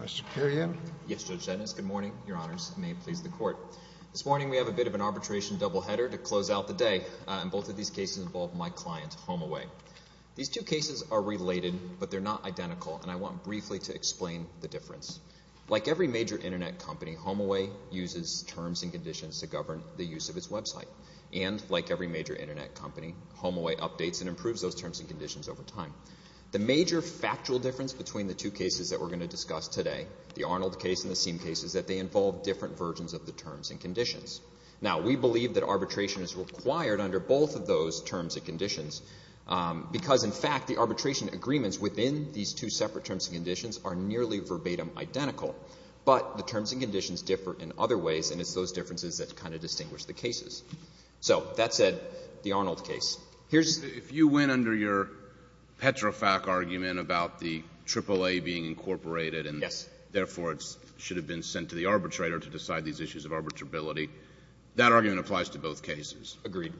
Mr. Perriello? Yes, Judge Dennis. Good morning, Your Honors. May it please the Court. This morning we have a bit of an arbitration doubleheader to close out the day, and both of these cases involve my client, HomeAway. These two cases are related, but they're not identical, and I want briefly to explain the difference. Like every major Internet company, HomeAway uses terms and conditions to govern the use of its website. And like every major Internet company, HomeAway updates and improves those terms and conditions over time. The major factual difference between the two cases that we're going to discuss today, the Arnold case and the Seam case, is that they involve different versions of the terms and conditions. Now, we believe that arbitration is required under both of those terms and conditions, because in fact the arbitration agreements within these two separate terms and conditions are nearly verbatim identical, but the terms and conditions differ in other ways, and it's those differences that kind of distinguish the cases. So that said, the Arnold case. Here's — If you went under your Petrofac argument about the AAA being incorporated and therefore it should have been sent to the arbitrator to decide these issues of arbitrability, that argument applies to both cases? Agreed.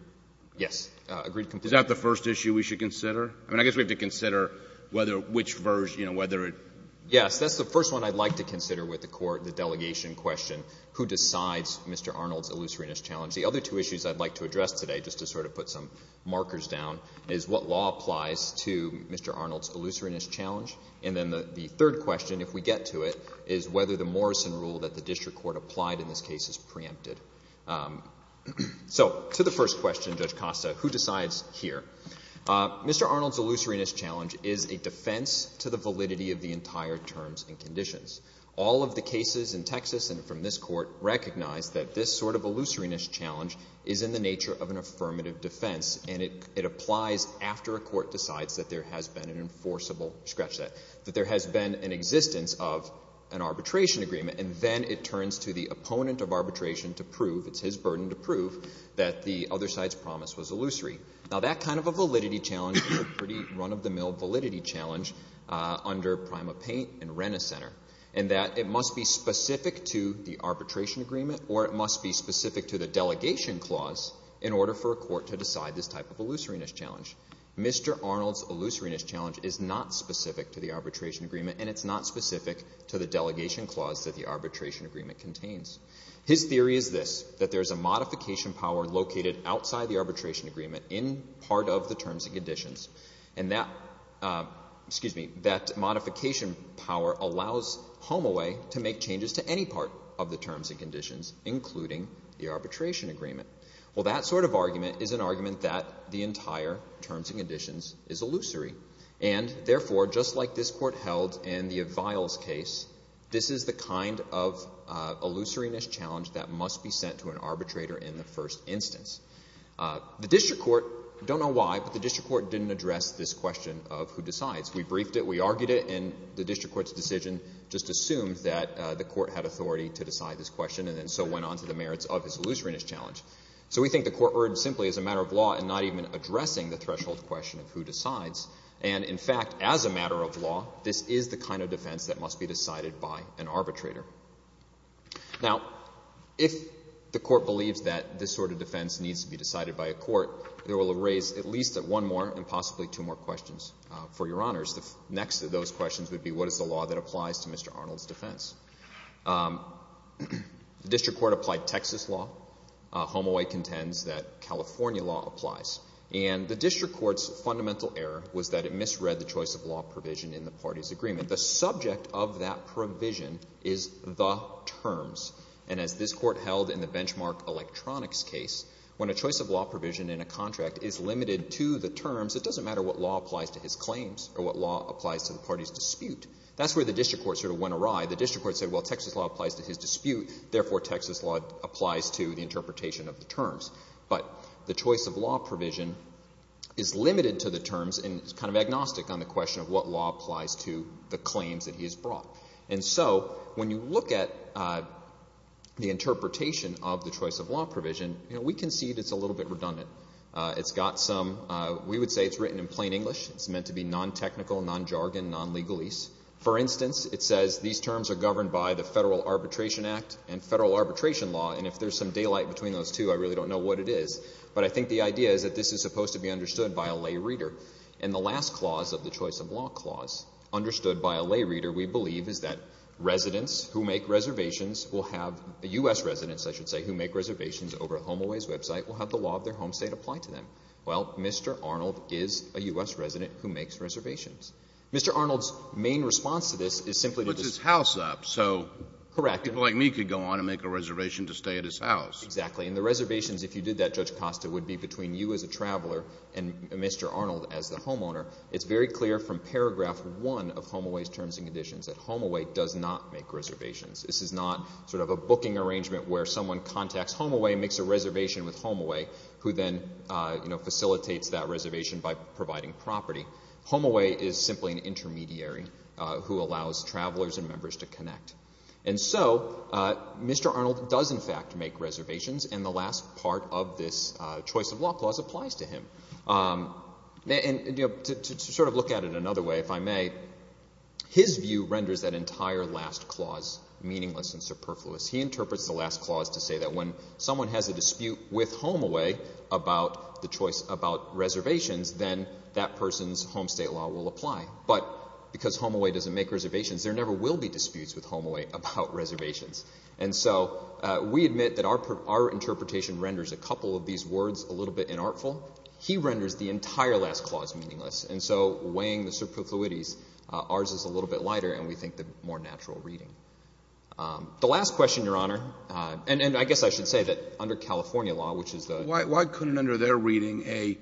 Yes. Agreed completely. Is that the first issue we should consider? I mean, I guess we have to consider whether which version, you know, whether it — Yes. That's the first one I'd like to consider with the Court, the delegation question, who decides Mr. Arnold's illusoriness challenge. The other two issues I'd like to address today, just to sort of put some markers down, is what law applies to Mr. Arnold's illusoriness challenge, and then the third question, if we get to it, is whether the Morrison rule that the district court applied in this case is preempted. So to the first question, Judge Costa, who decides here? Mr. Arnold's illusoriness challenge is a defense to the validity of the entire terms and conditions. All of the cases in Texas and from this Court recognize that this sort of illusoriness challenge is in the nature of an affirmative defense, and it applies after a court decides that there has been an enforceable — scratch that — that there has been an existence of an arbitration agreement, and then it turns to the opponent of arbitration to prove — it's his burden to prove — that the other side's promise was illusory. Now that kind of a validity challenge is a pretty run-of-the-mill validity challenge under PrimaPaint and Rena Center, in that it must be specific to the arbitration agreement, or it must be specific to the delegation clause in order for a court to decide this type of illusoriness challenge. Mr. Arnold's illusoriness challenge is not specific to the arbitration agreement, and it's not specific to the delegation clause that the arbitration agreement contains. His theory is this, that there's a modification power located outside the arbitration agreement in part of the terms and conditions, and that — excuse me — that modification power allows HomeAway to make changes to any part of the terms and conditions, including the arbitration agreement. Well, that sort of argument is an argument that the entire terms and conditions is illusory, and therefore, just like this Court held in the Aviles case, this is the kind of illusoriness challenge that must be sent to an arbitrator in the first instance. The district court — don't know why, but the district court didn't address this question of who decides. We briefed it, we argued it, and the district court's decision just assumed that the court had authority to decide this question, and then so went on to the merits of his illusoriness challenge. So we think the court erred simply as a matter of law in not even addressing the threshold question of who decides. And in fact, as a matter of law, this is the kind of defense that must be decided by an arbitrator. Now, if the court believes that this sort of defense needs to be decided by a court, it will raise at least one more and possibly two more questions for your honors. The next of those questions would be, what is the law that applies to Mr. Arnold's defense? The district court applied Texas law. HomeAway contends that California law applies. And the district court's fundamental error was that it misread the choice of law provision in the party's agreement. The subject of that provision is the terms. And as this court held in the Benchmark Electronics case, when a choice of law provision in a contract is limited to the terms, it doesn't matter what law applies to his claims or what law applies to the party's dispute. That's where the district court sort of went awry. The district court said, well, Texas law applies to his dispute, therefore Texas law applies to the interpretation of the terms. But the choice of law provision is limited to the terms and is kind of agnostic on the question of what law applies to the claims that he has brought. And so when you look at the interpretation of the choice of law provision, you know, we concede it's a little bit redundant. It's got some, we would say it's written in plain English. It's meant to be non-technical, non-jargon, non-legalese. For instance, it says these terms are governed by the Federal Arbitration Act and Federal Arbitration Law. And if there's some daylight between those two, I really don't know what it is. But I think the idea is that this is of the choice of law clause, understood by a lay reader, we believe is that residents who make reservations will have, U.S. residents, I should say, who make reservations over a HomeAways website will have the law of their home state applied to them. Well, Mr. Arnold is a U.S. resident who makes reservations. Mr. Arnold's main response to this is simply to just- He puts his house up. Correct. So people like me could go on and make a reservation to stay at his house. Exactly. And the reservations, if you did that, Judge Costa, would be between you as a traveler and Mr. Arnold as the homeowner, it's very clear from paragraph one of HomeAways' terms and conditions that HomeAway does not make reservations. This is not sort of a booking arrangement where someone contacts HomeAway and makes a reservation with HomeAway, who then, you know, facilitates that reservation by providing property. HomeAway is simply an intermediary who allows travelers and members to connect. And so Mr. Arnold does, in fact, make reservations, and the last part of this choice of law clause applies to him. And to sort of look at it another way, if I may, his view renders that entire last clause meaningless and superfluous. He interprets the last clause to say that when someone has a dispute with HomeAway about the choice about reservations, then that person's home state law will apply. But because HomeAway doesn't make reservations, there never will be disputes with HomeAway about reservations. And so we admit that our interpretation renders a couple of these words a little bit inartful. He renders the entire last clause meaningless. And so weighing the superfluities, ours is a little bit lighter and we think the more natural reading. The last question, Your Honor, and I guess I should say that under California law, which is the – Why couldn't, under their reading,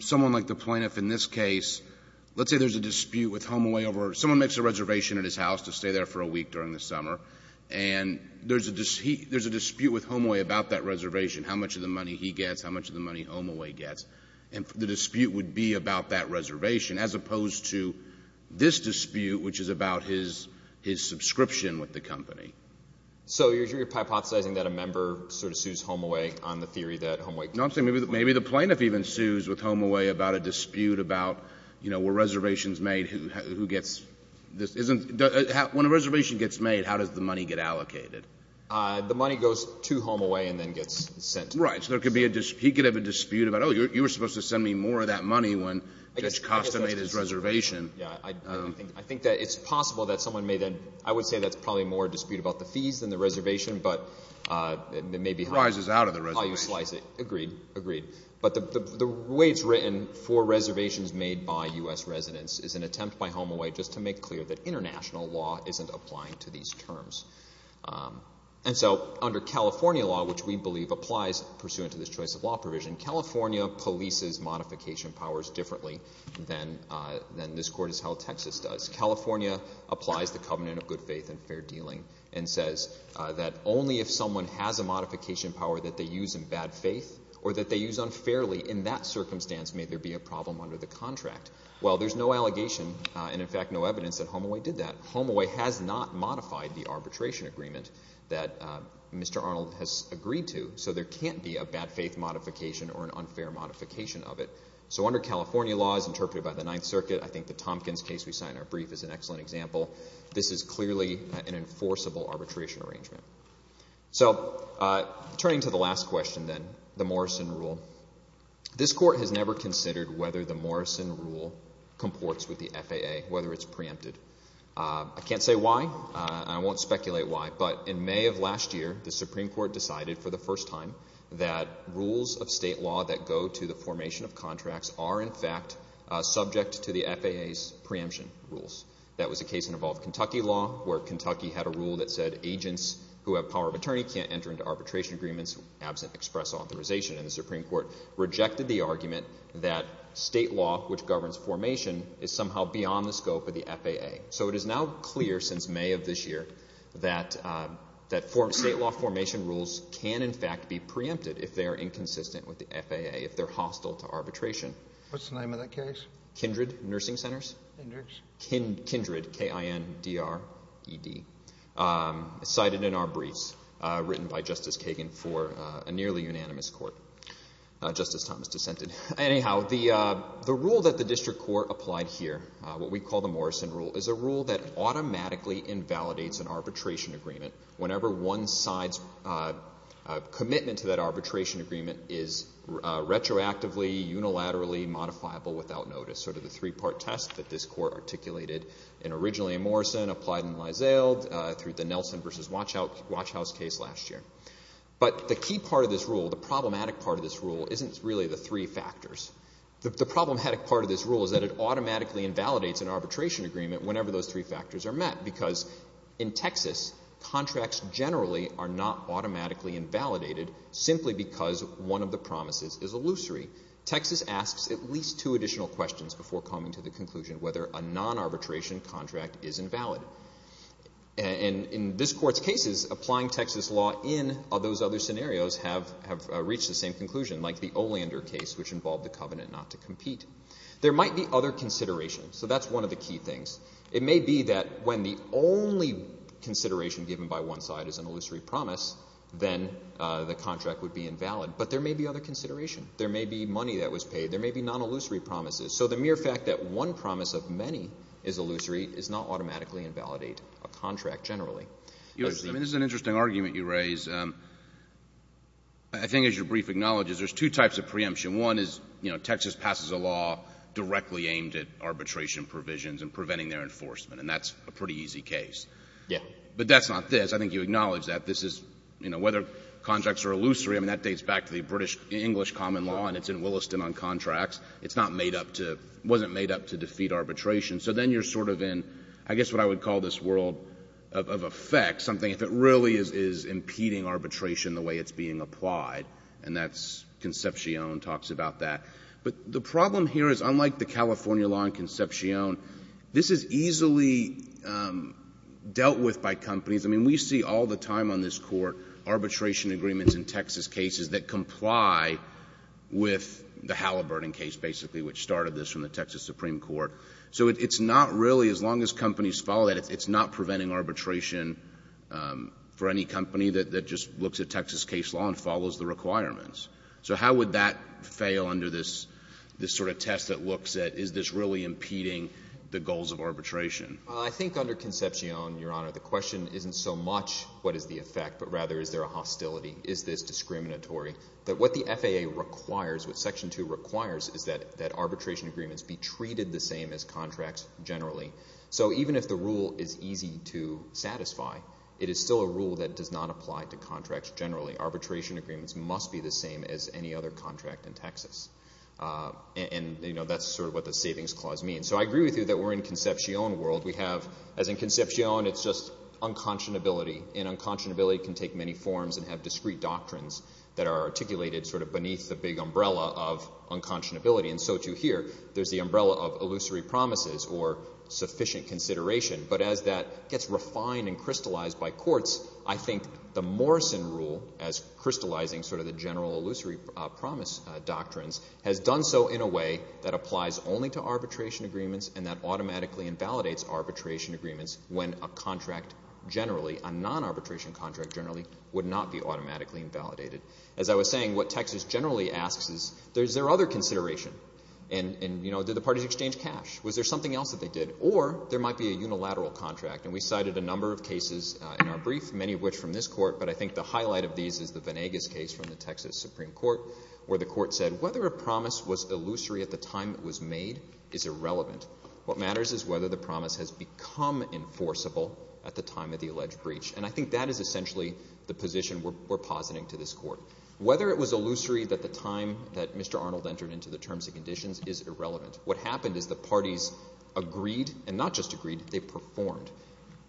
someone like the plaintiff in this case, let's say there's a dispute with HomeAway over someone makes a reservation at his house to stay there for a week during the summer. And there's a dispute with HomeAway about that reservation, how much of the money he gets, how much of the money HomeAway gets. And the dispute would be about that reservation as opposed to this dispute, which is about his subscription with the company. So you're hypothesizing that a member sort of sues HomeAway on the theory that HomeAway – No, I'm saying maybe the plaintiff even sues with HomeAway about a dispute about, you know, who gets this. When a reservation gets made, how does the money get allocated? The money goes to HomeAway and then gets sent. Right. So there could be a – he could have a dispute about, oh, you were supposed to send me more of that money when Judge Costa made his reservation. Yeah. I think that it's possible that someone made a – I would say that's probably more a dispute about the fees than the reservation, but it may be how – It rises out of the reservation. How you slice it. Agreed. Agreed. But the way it's written for reservations made by U.S. residents is an attempt by HomeAway just to make clear that international law isn't applying to these terms. And so under California law, which we believe applies pursuant to this choice of law provision, California polices modification powers differently than this court has held Texas does. California applies the covenant of good faith and fair dealing and says that only if someone has a modification power that they use in bad faith or that they use unfairly in that circumstance may there be a problem under the contract. Well, there's no allegation and, in fact, no evidence that HomeAway did that. HomeAway has not modified the arbitration agreement that Mr. Arnold has agreed to, so there can't be a bad faith modification or an unfair modification of it. So under California law as interpreted by the Ninth Circuit, I think the Tompkins case we cite in our brief is an excellent example, this is clearly an enforceable arbitration arrangement. So turning to the last question then, the Morrison rule. This court has never considered whether the Morrison rule comports with the FAA, whether it's preempted. I can't say why, and I won't speculate why, but in May of last year, the Supreme Court decided for the first time that rules of state law that go to the formation of contracts are, in fact, subject to the FAA's preemption rules. That was a case in Evolve Kentucky law where Kentucky had a rule that said agents who have power of attorney can't enter into arbitration agreements absent express authorization, and the Supreme Court rejected the argument that state law which governs formation is somehow beyond the scope of the FAA. So it is now clear since May of this year that state law formation rules can, in fact, be preempted if they are inconsistent with the FAA, if they're hostile to arbitration. What's the name of that case? Kindred Nursing Centers. Kindred. Kindred, K-I-N-D-R-E-D. Cited in our briefs, written by Justice Kagan for a nearly unanimous court. Justice Thomas dissented. Anyhow, the rule that the district court applied here, what we call the Morrison rule, is a rule that automatically invalidates an arbitration agreement whenever one side's commitment to that arbitration agreement is retroactively, unilaterally modifiable without notice, sort of the three-part test that this court articulated in originally in Morrison, applied in Lysale, through the Nelson v. Watch House case last year. But the key part of this rule, the problematic part of this rule, isn't really the three factors. The problematic part of this rule is that it automatically invalidates an arbitration agreement whenever those three factors are met, because in Texas, contracts generally are not automatically invalidated simply because one of the promises is illusory. Texas asks at least two additional questions before coming to the conclusion whether a non-arbitration contract is invalid. And in this court's cases, applying Texas law in those other scenarios have reached the same conclusion, like the Olander case, which involved the covenant not to compete. There might be other considerations. So that's one of the key things. It may be that when the only consideration given by one side is an illusory promise, then the contract would be invalid. But there may be other consideration. There may be money that was paid. There may be non-illusory promises. So the mere fact that one promise of many is illusory does not automatically invalidate a contract generally. I mean, this is an interesting argument you raise. I think, as your brief acknowledges, there's two types of preemption. One is, you know, Texas passes a law directly aimed at an easy case. Yeah. But that's not this. I think you acknowledge that. This is, you know, whether contracts are illusory, I mean, that dates back to the British English common law, and it's in Williston on contracts. It's not made up to — it wasn't made up to defeat arbitration. So then you're sort of in, I guess what I would call this world of effect, something that really is impeding arbitration the way it's being applied. And that's — Concepcion talks about that. But the problem here is, unlike the California law in Concepcion, this is easily dealt with by companies. I mean, we see all the time on this Court arbitration agreements in Texas cases that comply with the Halliburton case, basically, which started this from the Texas Supreme Court. So it's not really — as long as companies follow that, it's not preventing arbitration for any company that just looks at Texas case law and follows the requirements. So how would that fail under this sort of test that looks at, is this really impeding the goals of arbitration? I think under Concepcion, Your Honor, the question isn't so much, what is the effect, but rather, is there a hostility? Is this discriminatory? But what the FAA requires, what Section 2 requires, is that arbitration agreements be treated the same as contracts generally. So even if the rule is easy to satisfy, it is still a rule that does not apply to contracts generally. Arbitration agreements must be the same as any other contract in Texas. And, you know, that's sort of what the Savings Clause means. So I agree with you that we're in Concepcion world. We have — as in Concepcion, it's just unconscionability. And unconscionability can take many forms and have discrete doctrines that are articulated sort of beneath the big umbrella of unconscionability. And so, too, here, there's the umbrella of illusory promises or sufficient consideration. But as that gets refined and crystallized by courts, I think the Morrison Rule, as crystallizing sort of the general illusory promise doctrines, has done so in a way that applies only to arbitration agreements and that automatically invalidates arbitration agreements when a contract generally, a non-arbitration contract generally, would not be automatically invalidated. As I was saying, what Texas generally asks is, is there other consideration? And, you know, did the parties exchange cash? Was there something else that they did? Or there might be a unilateral contract. And we cited a number of cases in our brief, many of which from this court, but I think the highlight of these is the Venegas case from the Texas Supreme Court, where the court said whether a promise was illusory at the time it was made is irrelevant. What matters is whether the promise has become enforceable at the time of the alleged breach. And I think that is essentially the position we're positing to this court. Whether it was illusory at the time that Mr. Arnold entered into the terms and conditions is irrelevant. What happened is the parties agreed, and not just agreed, they performed.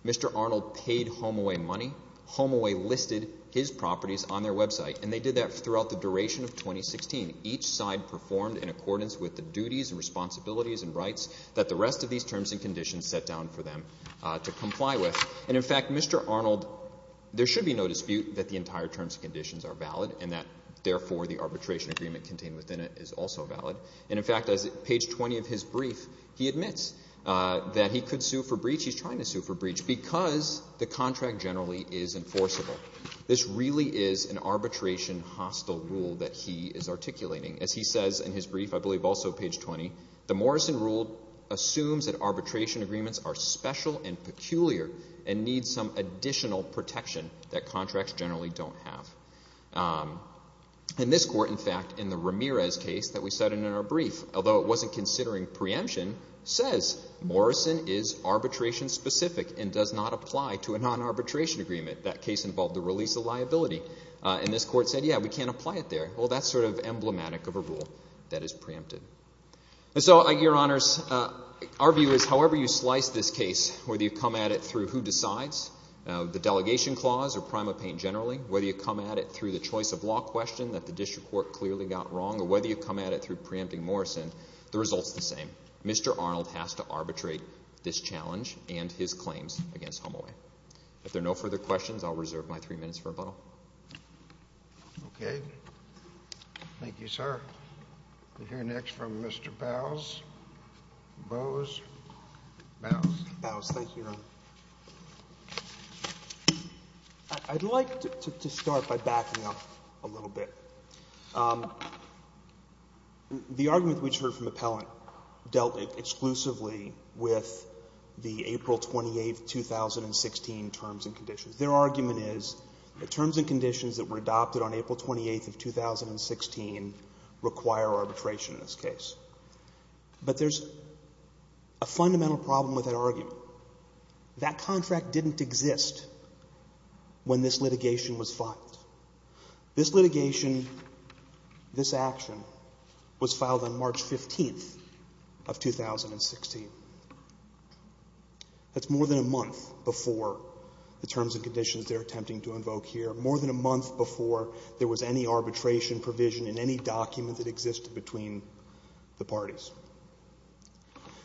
Mr. Arnold paid HomeAway money. HomeAway listed his properties on their website. And they did that throughout the duration of 2016. Each side performed in accordance with the duties and responsibilities and rights that the rest of these terms and conditions set down for them to comply with. And, in fact, Mr. Arnold, there should be no dispute that the entire terms and conditions are valid and that, therefore, the arbitration agreement contained within it is also valid. And, in fact, as page 20 of his brief, he admits that he could sue for breach. He's trying to sue for breach because the contract generally is enforceable. This really is an arbitration hostile rule that he is articulating. As he says in his brief, I believe also page 20, the Morrison rule assumes that arbitration agreements are special and peculiar and need some additional protection that contracts generally don't have. In this court, in fact, in the Ramirez case that we cited in our brief, although it wasn't considering preemption, says Morrison is arbitration specific and does not apply to a non-arbitration agreement. That case involved the release of liability. And this court said, yeah, we can't apply it there. Well, that's sort of emblematic of a rule that is preempted. And so, your honors, our view is however you slice this case, whether you come at it through who decides, the delegation clause, or Prima Paine generally, whether you come at it through the choice of law question that the district court clearly got wrong, or whether you come at it through preempting Morrison, the result's the same. Mr. Arnold has to arbitrate this challenge and his claims against Humaway. If there are no further questions, I'll reserve my three minutes for rebuttal. Okay. Thank you, sir. We'll hear next from Mr. Bowes. Bowes. Bowes. Thank you, Your Honor. I'd like to start by backing up a little bit. The argument we just heard from Appellant dealt exclusively with the April 28, 2016, terms and conditions. Their argument is the terms and conditions that were adopted on April 28, 2016, require arbitration in this case. But there's a fundamental problem with that argument. That contract didn't exist when this litigation was filed. This litigation, this action, was filed on April 28, 2016.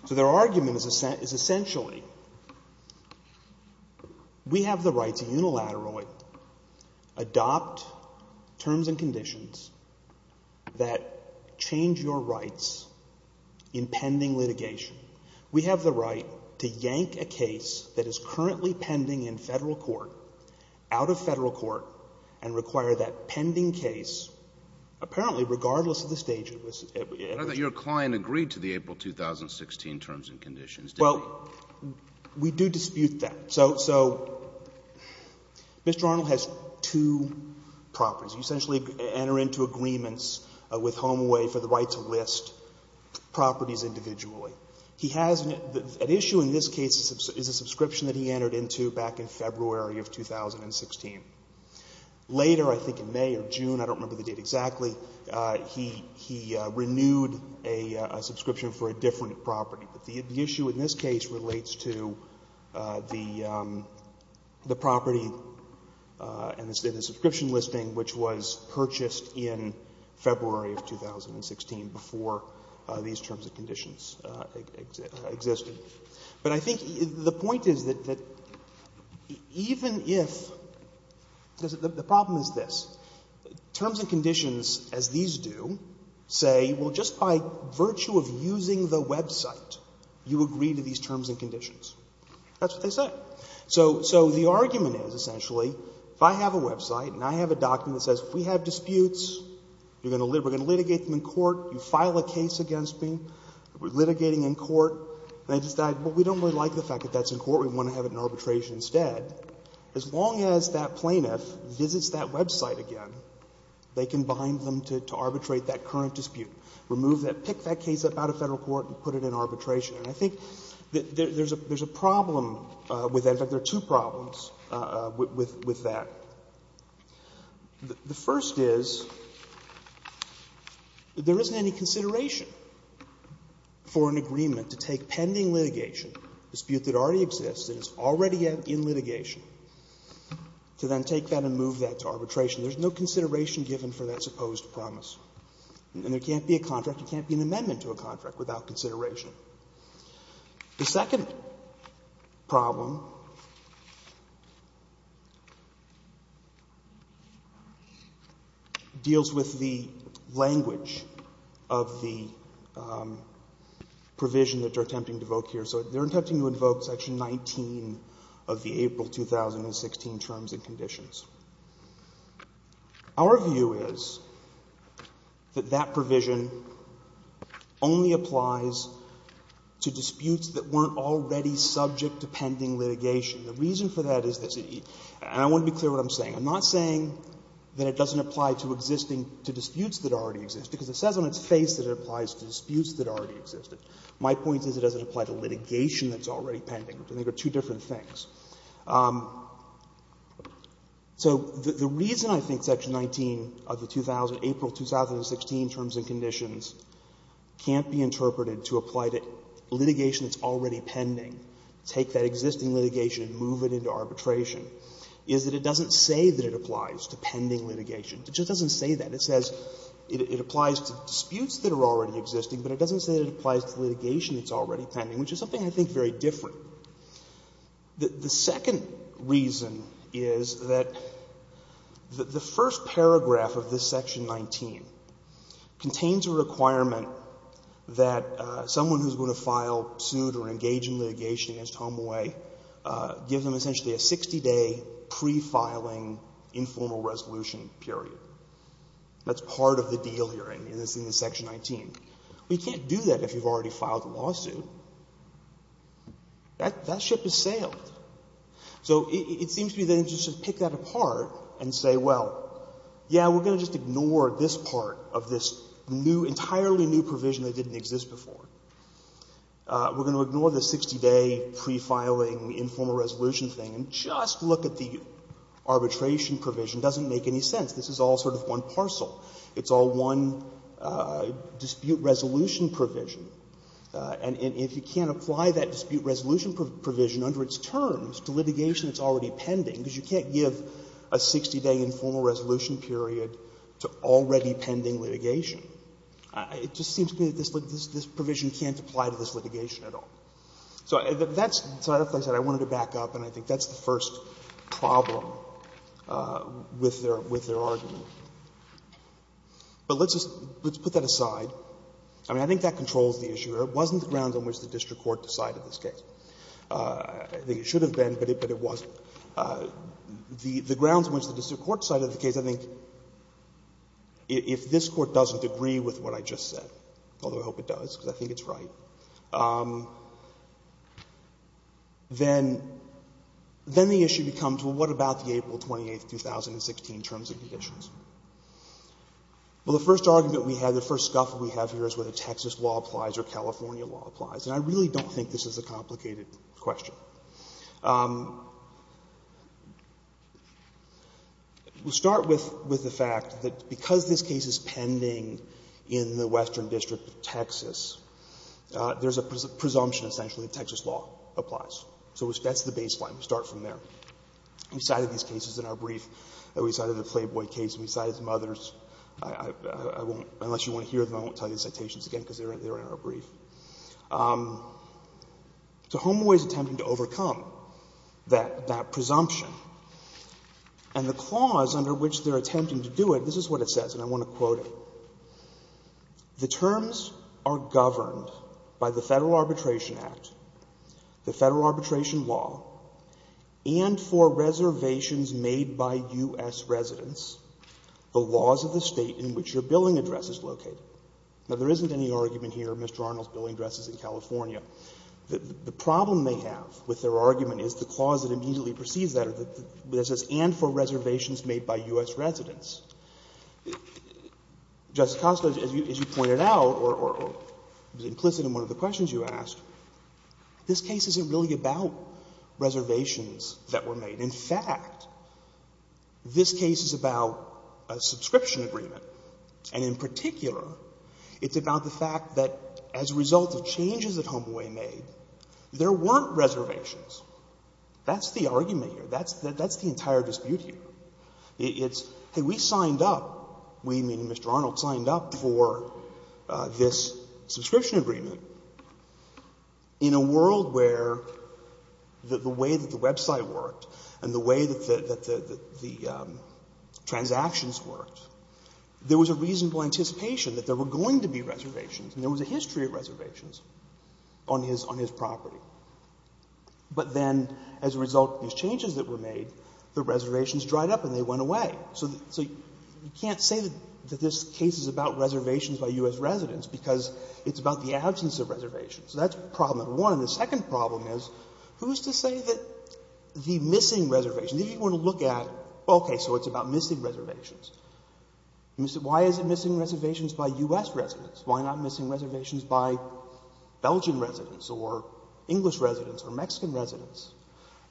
So the argument is essentially we have the right to unilaterally adopt terms and conditions that change your rights in pending litigation. We have the right to yank a case that is currently pending in Federal court, out of Federal court, and require that pending case, apparently, regardless of the stage it was at. But I thought your client agreed to the April 2016 terms and conditions, didn't he? Well, we do dispute that. So Mr. Arnold has two properties. You essentially enter into agreements with Humaway for the right to list properties individually. He has an issue in this case is a subscription that he entered into back in February of 2016. Later, I think in May or June, I don't remember the date exactly, he renewed a subscription for a different property. But the issue in this case relates to the property and the subscription listing which was purchased in February of 2016 before these terms and conditions existed. But I think the point is that even if the problem is this. Terms and conditions, as these do, say, well, just by virtue of using the website, you agree to these terms and conditions. That's what they say. So the argument is, essentially, if I have a website and I have a document that says if we have disputes, we're going to litigate them in court, you file a case against me, we're litigating in court, and I decide, well, we don't really like the fact that that's in court, we want to have it in arbitration instead, as long as that plaintiff visits that website again, they can bind them to arbitrate that current dispute, remove that, pick that case up out of Federal court and put it in arbitration. And I think there's a problem with that. In fact, there are two problems with that. The first is that there isn't any consideration for an agreement to take pending litigation, a dispute that already exists and is already in litigation, to then take that and move that to arbitration. There's no consideration given for that supposed promise. And there can't be a contract, there can't be an amendment to a contract that deals with the language of the provision that you're attempting to invoke here. So they're attempting to invoke Section 19 of the April 2016 terms and conditions. Our view is that that provision only applies to disputes that weren't already subject to pending litigation. The reason for that is that the — and I want to be clear about what I'm saying. I'm not saying that it doesn't apply to existing — to disputes that already exist, because it says on its face that it applies to disputes that already existed. My point is it doesn't apply to litigation that's already pending. I think they're two different things. So the reason I think Section 19 of the 2000 — April 2016 terms and conditions can't be interpreted to apply to litigation that's already pending, take that existing litigation and move it into arbitration, is that it doesn't say that it applies to pending litigation. It just doesn't say that. It says it applies to disputes that are already existing, but it doesn't say that it applies to litigation that's already pending, which is something I think very different. The second reason is that the first paragraph of this Section 19 contains a requirement that someone who's going to file, suit, or engage in litigation against Tom Way gives him essentially a 60-day pre-filing informal resolution period. That's part of the deal here, and it's in Section 19. Well, you can't do that if you've already filed a lawsuit. That ship has sailed. So it seems to be the interest to pick that apart and say, well, yeah, we're going to just ignore this part of this new, entirely new provision that didn't exist before. We're going to ignore the 60-day pre-filing informal resolution thing and just look at the arbitration provision. It doesn't make any sense. This is all sort of one parcel. It's all one dispute resolution provision. And if you can't apply that dispute resolution provision under its terms to litigation that's already pending, because you can't give a 60-day informal resolution period to already pending litigation. It just seems to me that this provision can't apply to this litigation at all. So that's, as I said, I wanted to back up, and I think that's the first problem with their argument. But let's put that aside. I mean, I think that controls the issue. It wasn't the grounds on which the district court decided this case. I think it should have been, but it wasn't. The grounds on which the district court decided the case, I think, if this Court doesn't agree with what I just said, although I hope it does because I think it's right, then the issue becomes, well, what about the April 28, 2016 terms and conditions? Well, the first argument we have, the first scuffle we have here is whether Texas law applies or California law applies. And I really don't think this is a complicated question. We'll start with the fact that because this case is pending in the Western District of Texas, there's a presumption, essentially, that Texas law applies. So that's the baseline. We'll start from there. We cited these cases in our brief. We cited the Flayboy case. We cited some others. I won't, unless you want to hear them, I won't tell you the citations again because they're in our brief. So Home Away is attempting to overcome that presumption. And the clause under which they're attempting to do it, this is what it says, and I want to quote it. The terms are governed by the Federal Arbitration Act, the Federal Arbitration law, and for reservations made by U.S. residents, the laws of the State in which your billing address is located. Now, there isn't any argument here, Mr. Arnold's billing address is in California. The problem they have with their argument is the clause that immediately precedes that, where it says, and for reservations made by U.S. residents. Justice Costa, as you pointed out, or was implicit in one of the questions you asked, this case isn't really about reservations that were made. In fact, this case is about a subscription agreement, and in particular, it's about the fact that as a result of changes that Home Away made, there weren't reservations. That's the argument here. That's the entire dispute here. It's, hey, we signed up, we, meaning Mr. Arnold, signed up for this subscription agreement, in a world where the way that the website worked and the way that the transactions worked, there was a reasonable anticipation that there were going to be reservations, and there was a history of reservations on his property. But then as a result of these changes that were made, the reservations dried up and they went away. So you can't say that this case is about reservations by U.S. residents, because it's about the absence of reservations. So that's problem number one. And the second problem is, who is to say that the missing reservations? If you were to look at, okay, so it's about missing reservations. Why is it missing reservations by U.S. residents? Why not missing reservations by Belgian residents or English residents or Mexican residents?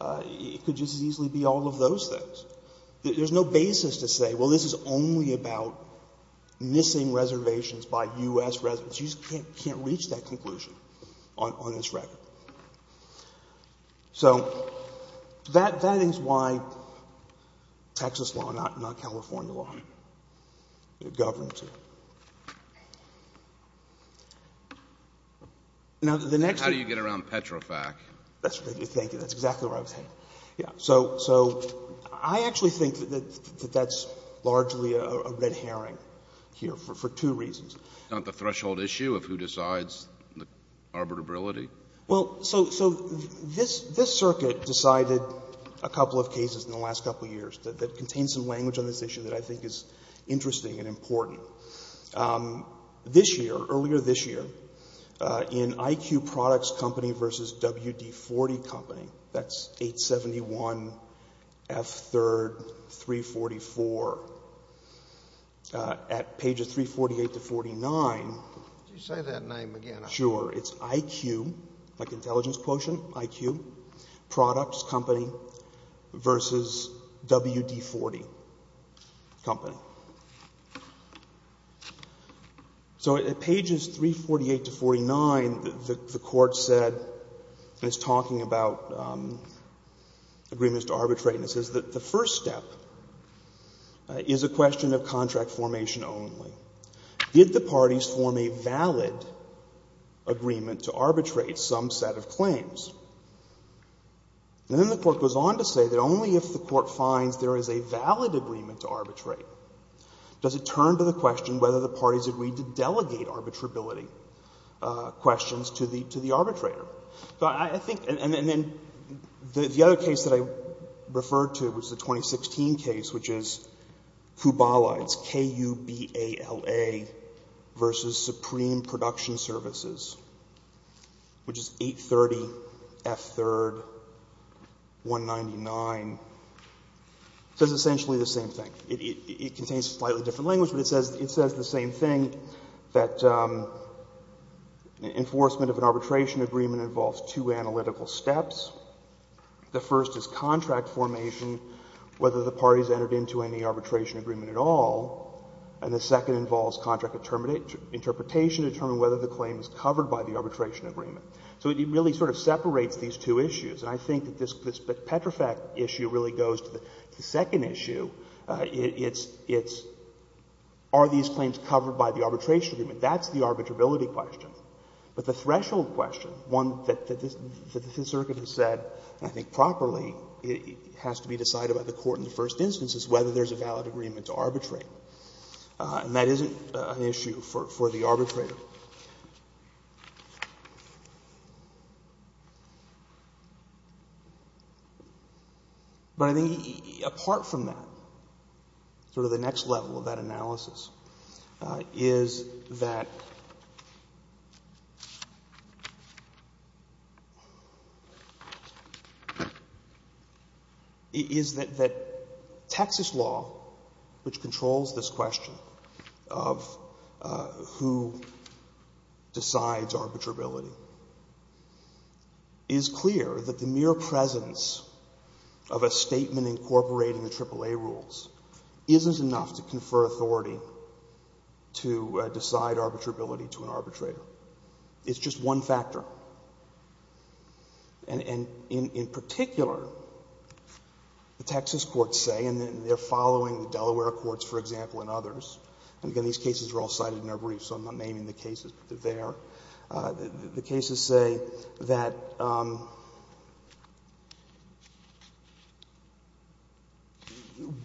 It could just as easily be all of those things. There's no basis to say, well, this is only about missing reservations by U.S. residents. You just can't reach that conclusion on this record. So that is why Texas law, not California law, governs it. Now, the next one. And how do you get around Petrofac? That's what I was thinking. That's exactly where I was headed. Yes. So I actually think that that's largely a red herring here for two reasons. It's not the threshold issue of who decides the arbitrability. Well, so this circuit decided a couple of cases in the last couple of years that contain some language on this issue that I think is interesting and important. This year, earlier this year, in IQ Products Company v. WD-40 Company, that's 871 F. 3rd, 344. At pages 348 to 49. Could you say that name again? Sure. It's IQ, like intelligence quotient, IQ Products Company v. WD-40 Company. So at pages 348 to 49, the Court said, and it's talking about agreements to arbitrate, and it says that the first step is a question of contract formation only. Did the parties form a valid agreement to arbitrate some set of claims? And then the Court goes on to say that only if the Court finds there is a valid agreement to arbitrate does it turn to the question whether the parties agreed to delegate arbitrability questions to the arbitrator. And then the other case that I referred to was the 2016 case, which is KUBALA, it's K-U-B-A-L-A, v. Supreme Production Services, which is 830 F. 3rd, 199. It says essentially the same thing. It contains slightly different language, but it says the same thing, that enforcement of an arbitration agreement involves two analytical steps. The first is contract formation, whether the parties entered into any arbitration agreement at all. And the second involves contract interpretation to determine whether the claim is covered by the arbitration agreement. So it really sort of separates these two issues. And I think that this Petrofac issue really goes to the second issue. It's are these claims covered by the arbitration agreement? That's the arbitrability question. But the threshold question, one that the Fifth Circuit has said, I think, properly, has to be decided by the Court in the first instance, is whether there is a valid agreement to arbitrate. And that isn't an issue for the arbitrator. But I think apart from that, sort of the next level of that analysis, is that Texas law, which controls this question of who decides arbitrability, is clear that the mere presence of a statement incorporating the AAA rules isn't enough to confer authority to decide arbitrability to an arbitrator. It's just one factor. And in particular, the Texas courts say, and they're following the Delaware courts, for example, and others. And again, these cases are all cited in their briefs, so I'm not naming the cases, but they're there. The cases say that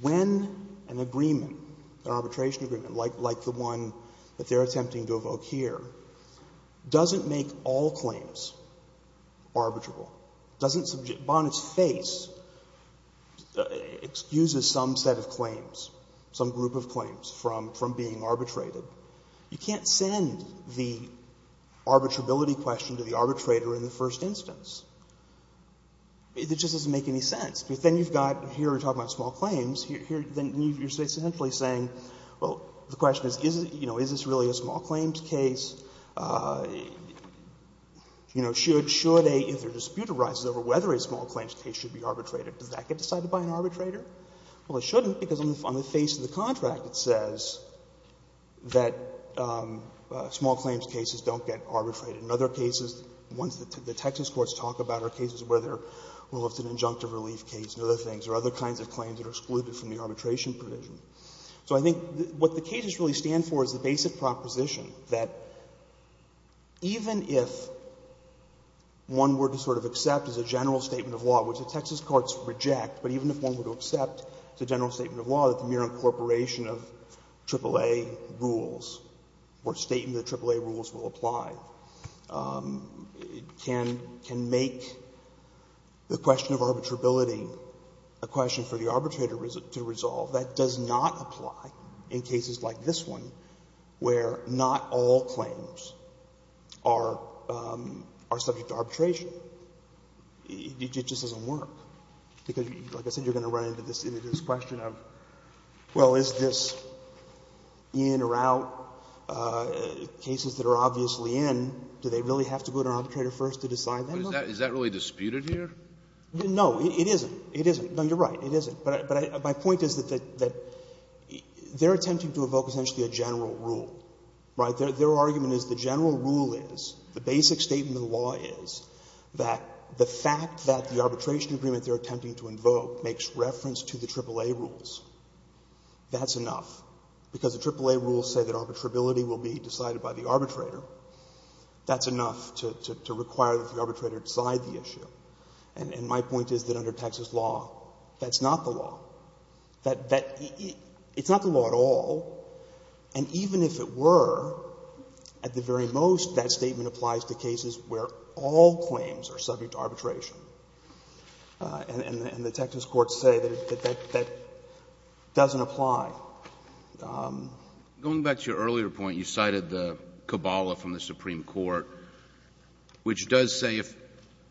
when an agreement, an arbitration agreement like the one that they're using, doesn't make all claims arbitrable, doesn't subject, upon its face, excuses some set of claims, some group of claims from being arbitrated, you can't send the arbitrability question to the arbitrator in the first instance. It just doesn't make any sense. Because then you've got, here we're talking about small claims. Then you're essentially saying, well, the question is, you know, is this really a small claim? You know, should a dispute arise over whether a small claims case should be arbitrated? Does that get decided by an arbitrator? Well, it shouldn't, because on the face of the contract it says that small claims cases don't get arbitrated. In other cases, ones that the Texas courts talk about are cases where there's an injunctive relief case and other things, or other kinds of claims that are excluded from the arbitration provision. So I think what the cases really stand for is the basic proposition that even if one were to sort of accept as a general statement of law, which the Texas courts reject, but even if one were to accept as a general statement of law that the mere incorporation of AAA rules or statement of AAA rules will apply, can make the question of arbitrability a question for the arbitrator to resolve. That does not apply in cases like this one, where not all claims are subject to arbitration. It just doesn't work. Because, like I said, you're going to run into this question of, well, is this in or out cases that are obviously in, do they really have to go to an arbitrator first to decide that? Is that really disputed here? No. It isn't. It isn't. No, you're right. It isn't. But my point is that they're attempting to evoke essentially a general rule, right? Their argument is the general rule is, the basic statement of the law is, that the fact that the arbitration agreement they're attempting to invoke makes reference to the AAA rules, that's enough. Because the AAA rules say that arbitrability will be decided by the arbitrator, that's enough to require that the arbitrator decide the issue. And my point is that under Texas law, that's not the law. It's not the law at all. And even if it were, at the very most, that statement applies to cases where all claims are subject to arbitration. And the Texas courts say that that doesn't apply. Going back to your earlier point, you cited the Cabala from the Supreme Court, which does say if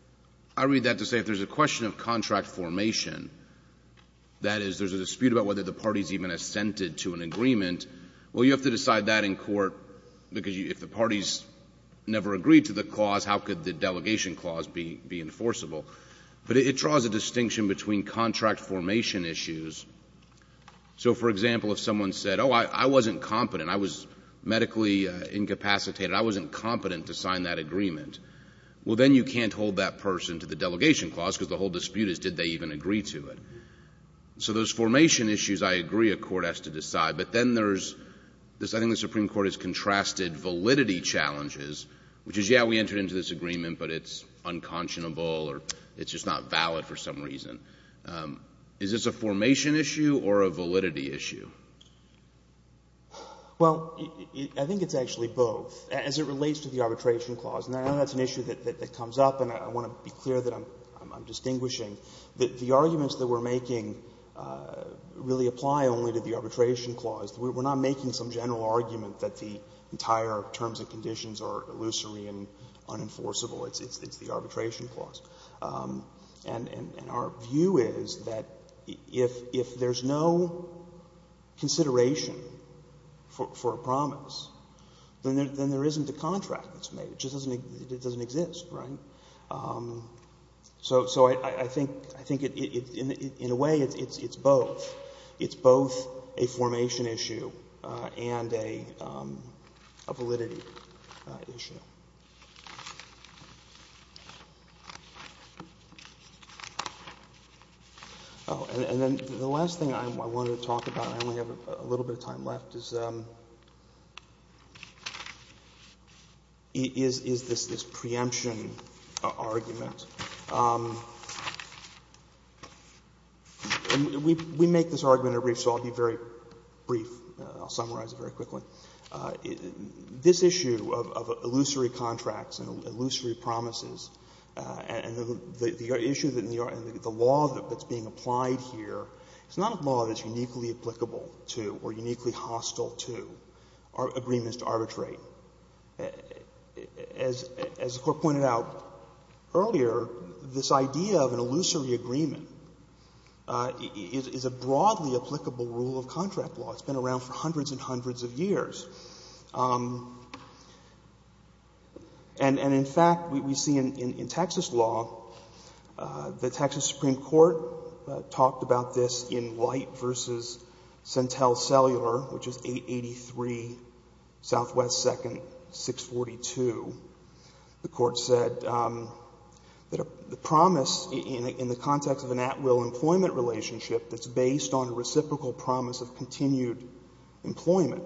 — I read that to say if there's a question of contract formation, that is, there's a dispute about whether the parties even assented to an agreement, well, you have to decide that in court, because if the parties never agreed to the clause, how could the delegation clause be enforceable? But it draws a distinction between contract formation issues. So, for example, if someone said, oh, I wasn't competent, I was medically incapacitated, I wasn't competent to sign that agreement, well, then you can't hold that person to the delegation clause, because the whole dispute is did they even agree to it. So those formation issues, I agree a court has to decide. But then there's — I think the Supreme Court has contrasted validity challenges, which is, yeah, we entered into this agreement, but it's unconscionable or it's just not valid for some reason. Is this a formation issue or a validity issue? Well, I think it's actually both. As it relates to the arbitration clause, and I know that's an issue that comes up, and I want to be clear that I'm distinguishing, that the arguments that we're making really apply only to the arbitration clause. We're not making some general argument that the entire terms and conditions are illusory and unenforceable. It's the arbitration clause. And our view is that if there's no consideration for a promise, then there isn't a contract that's made. It just doesn't exist, right? So I think in a way it's both. It's both a formation issue and a validity issue. Oh, and then the last thing I wanted to talk about, and I only have a little bit of time left, is this preemption argument. We make this argument in a brief, so I'll be very brief. I'll summarize it very quickly. This issue of illusory contracts and illusory promises and the issue that the law that's being applied here, it's not a law that's uniquely applicable to or uniquely hostile to agreements to arbitrate. As the Court pointed out earlier, this idea of an illusory agreement is a broadly applicable rule of contract law. It's been around for hundreds and hundreds of years. And in fact, we see in Texas law, the Texas Supreme Court talked about this in White v. Centel Cellular, which is 883 Southwest 2nd, 642. The Court said that the promise in the context of an at-will employment relationship that's based on a reciprocal promise of continued employment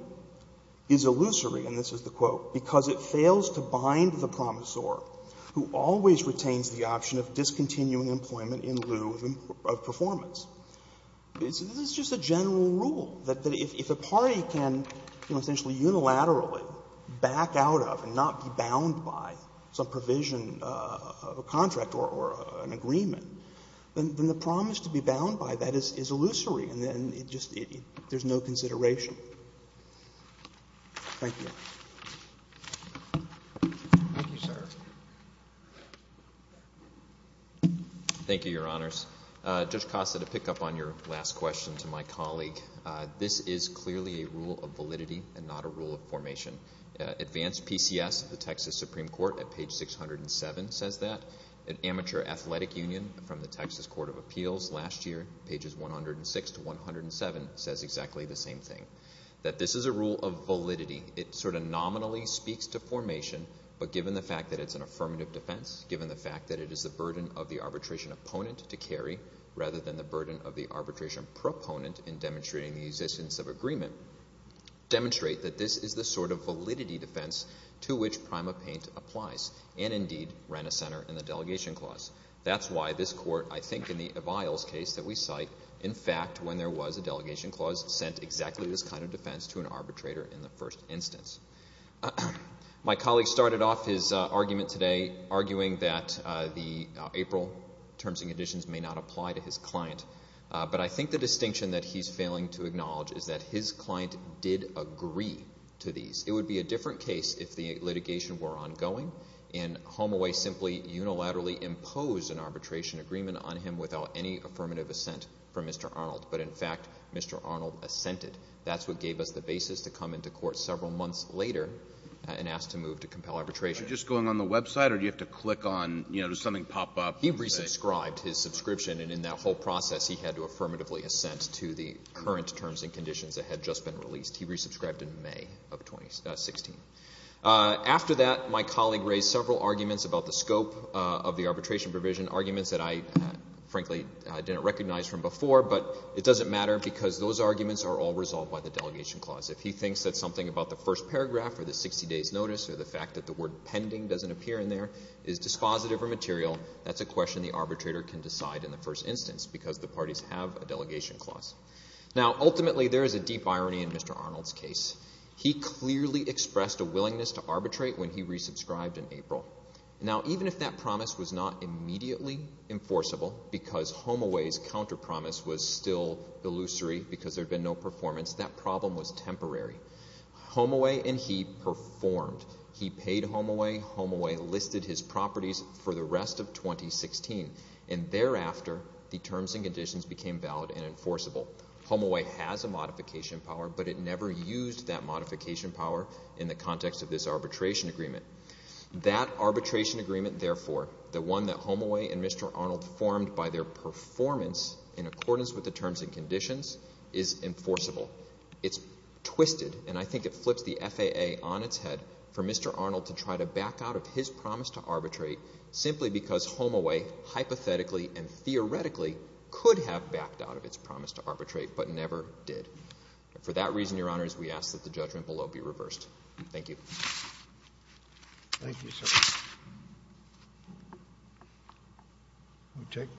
is illusory, and this is the quote, because it fails to bind the promisor who always retains the option of discontinuing employment in lieu of performance. This is just a general rule, that if a party can essentially unilaterally back out of and not be bound by some provision of a contract or an agreement, then the promise to be bound by that is illusory and there's no consideration. Thank you. Thank you, sir. Thank you, Your Honors. Judge Costa, to pick up on your last question to my colleague, this is clearly a rule of validity and not a rule of formation. Advanced PCS of the Texas Supreme Court at page 607 says that. Amateur Athletic Union from the Texas Court of Appeals last year, pages 106 to 107, says exactly the same thing, that this is a rule of validity. It sort of nominally speaks to formation, but given the fact that it's an affirmative defense, given the fact that it is the burden of the arbitration opponent to carry rather than the burden of the arbitration proponent in demonstrating the existence of agreement, demonstrate that this is the sort of validity defense to which PrimaPaint applies and, indeed, ran a center in the delegation clause. That's why this court, I think in the Aviles case that we cite, in fact when there was a delegation clause, sent exactly this kind of defense to an arbitrator in the first instance. My colleague started off his argument today arguing that the April terms and conditions may not apply to his client, but I think the distinction that he's failing to acknowledge is that his client did agree to these. It would be a different case if the litigation were ongoing and HomeAway simply unilaterally imposed an arbitration agreement on him without any affirmative assent from Mr. Arnold. But, in fact, Mr. Arnold assented. That's what gave us the basis to come into court several months later and ask to move to compel arbitration. Are you just going on the website or do you have to click on, you know, does something pop up? He resubscribed his subscription, and in that whole process, he had to affirmatively assent to the current terms and conditions that had just been released. He resubscribed in May of 2016. After that, my colleague raised several arguments about the scope of the arbitration provision, arguments that I frankly didn't recognize from before, but it doesn't matter because those arguments are all resolved by the delegation clause. If he thinks that something about the first paragraph or the 60 days notice or the fact that the word pending doesn't appear in there is dispositive or material, that's a question the arbitrator can decide in the first instance because the parties have a delegation clause. Now, ultimately, there is a deep irony in Mr. Arnold's case. He clearly expressed a willingness to arbitrate when he resubscribed in April. Now, even if that promise was not immediately enforceable because HomeAway's counter promise was still illusory because there had been no performance, that problem was temporary. HomeAway and he performed. He paid HomeAway. HomeAway listed his properties for the rest of 2016, and thereafter the terms and conditions became valid and enforceable. HomeAway has a modification power, but it never used that modification power in the context of this arbitration agreement. That arbitration agreement, therefore, the one that HomeAway and Mr. Arnold formed by their performance in accordance with the terms and conditions is enforceable. It's twisted, and I think it flips the FAA on its head for Mr. Arnold to try to back out of his promise to arbitrate simply because HomeAway hypothetically and theoretically could have backed out of its promise to arbitrate but never did. For that reason, Your Honors, we ask that the judgment below be reversed. Thank you, sir.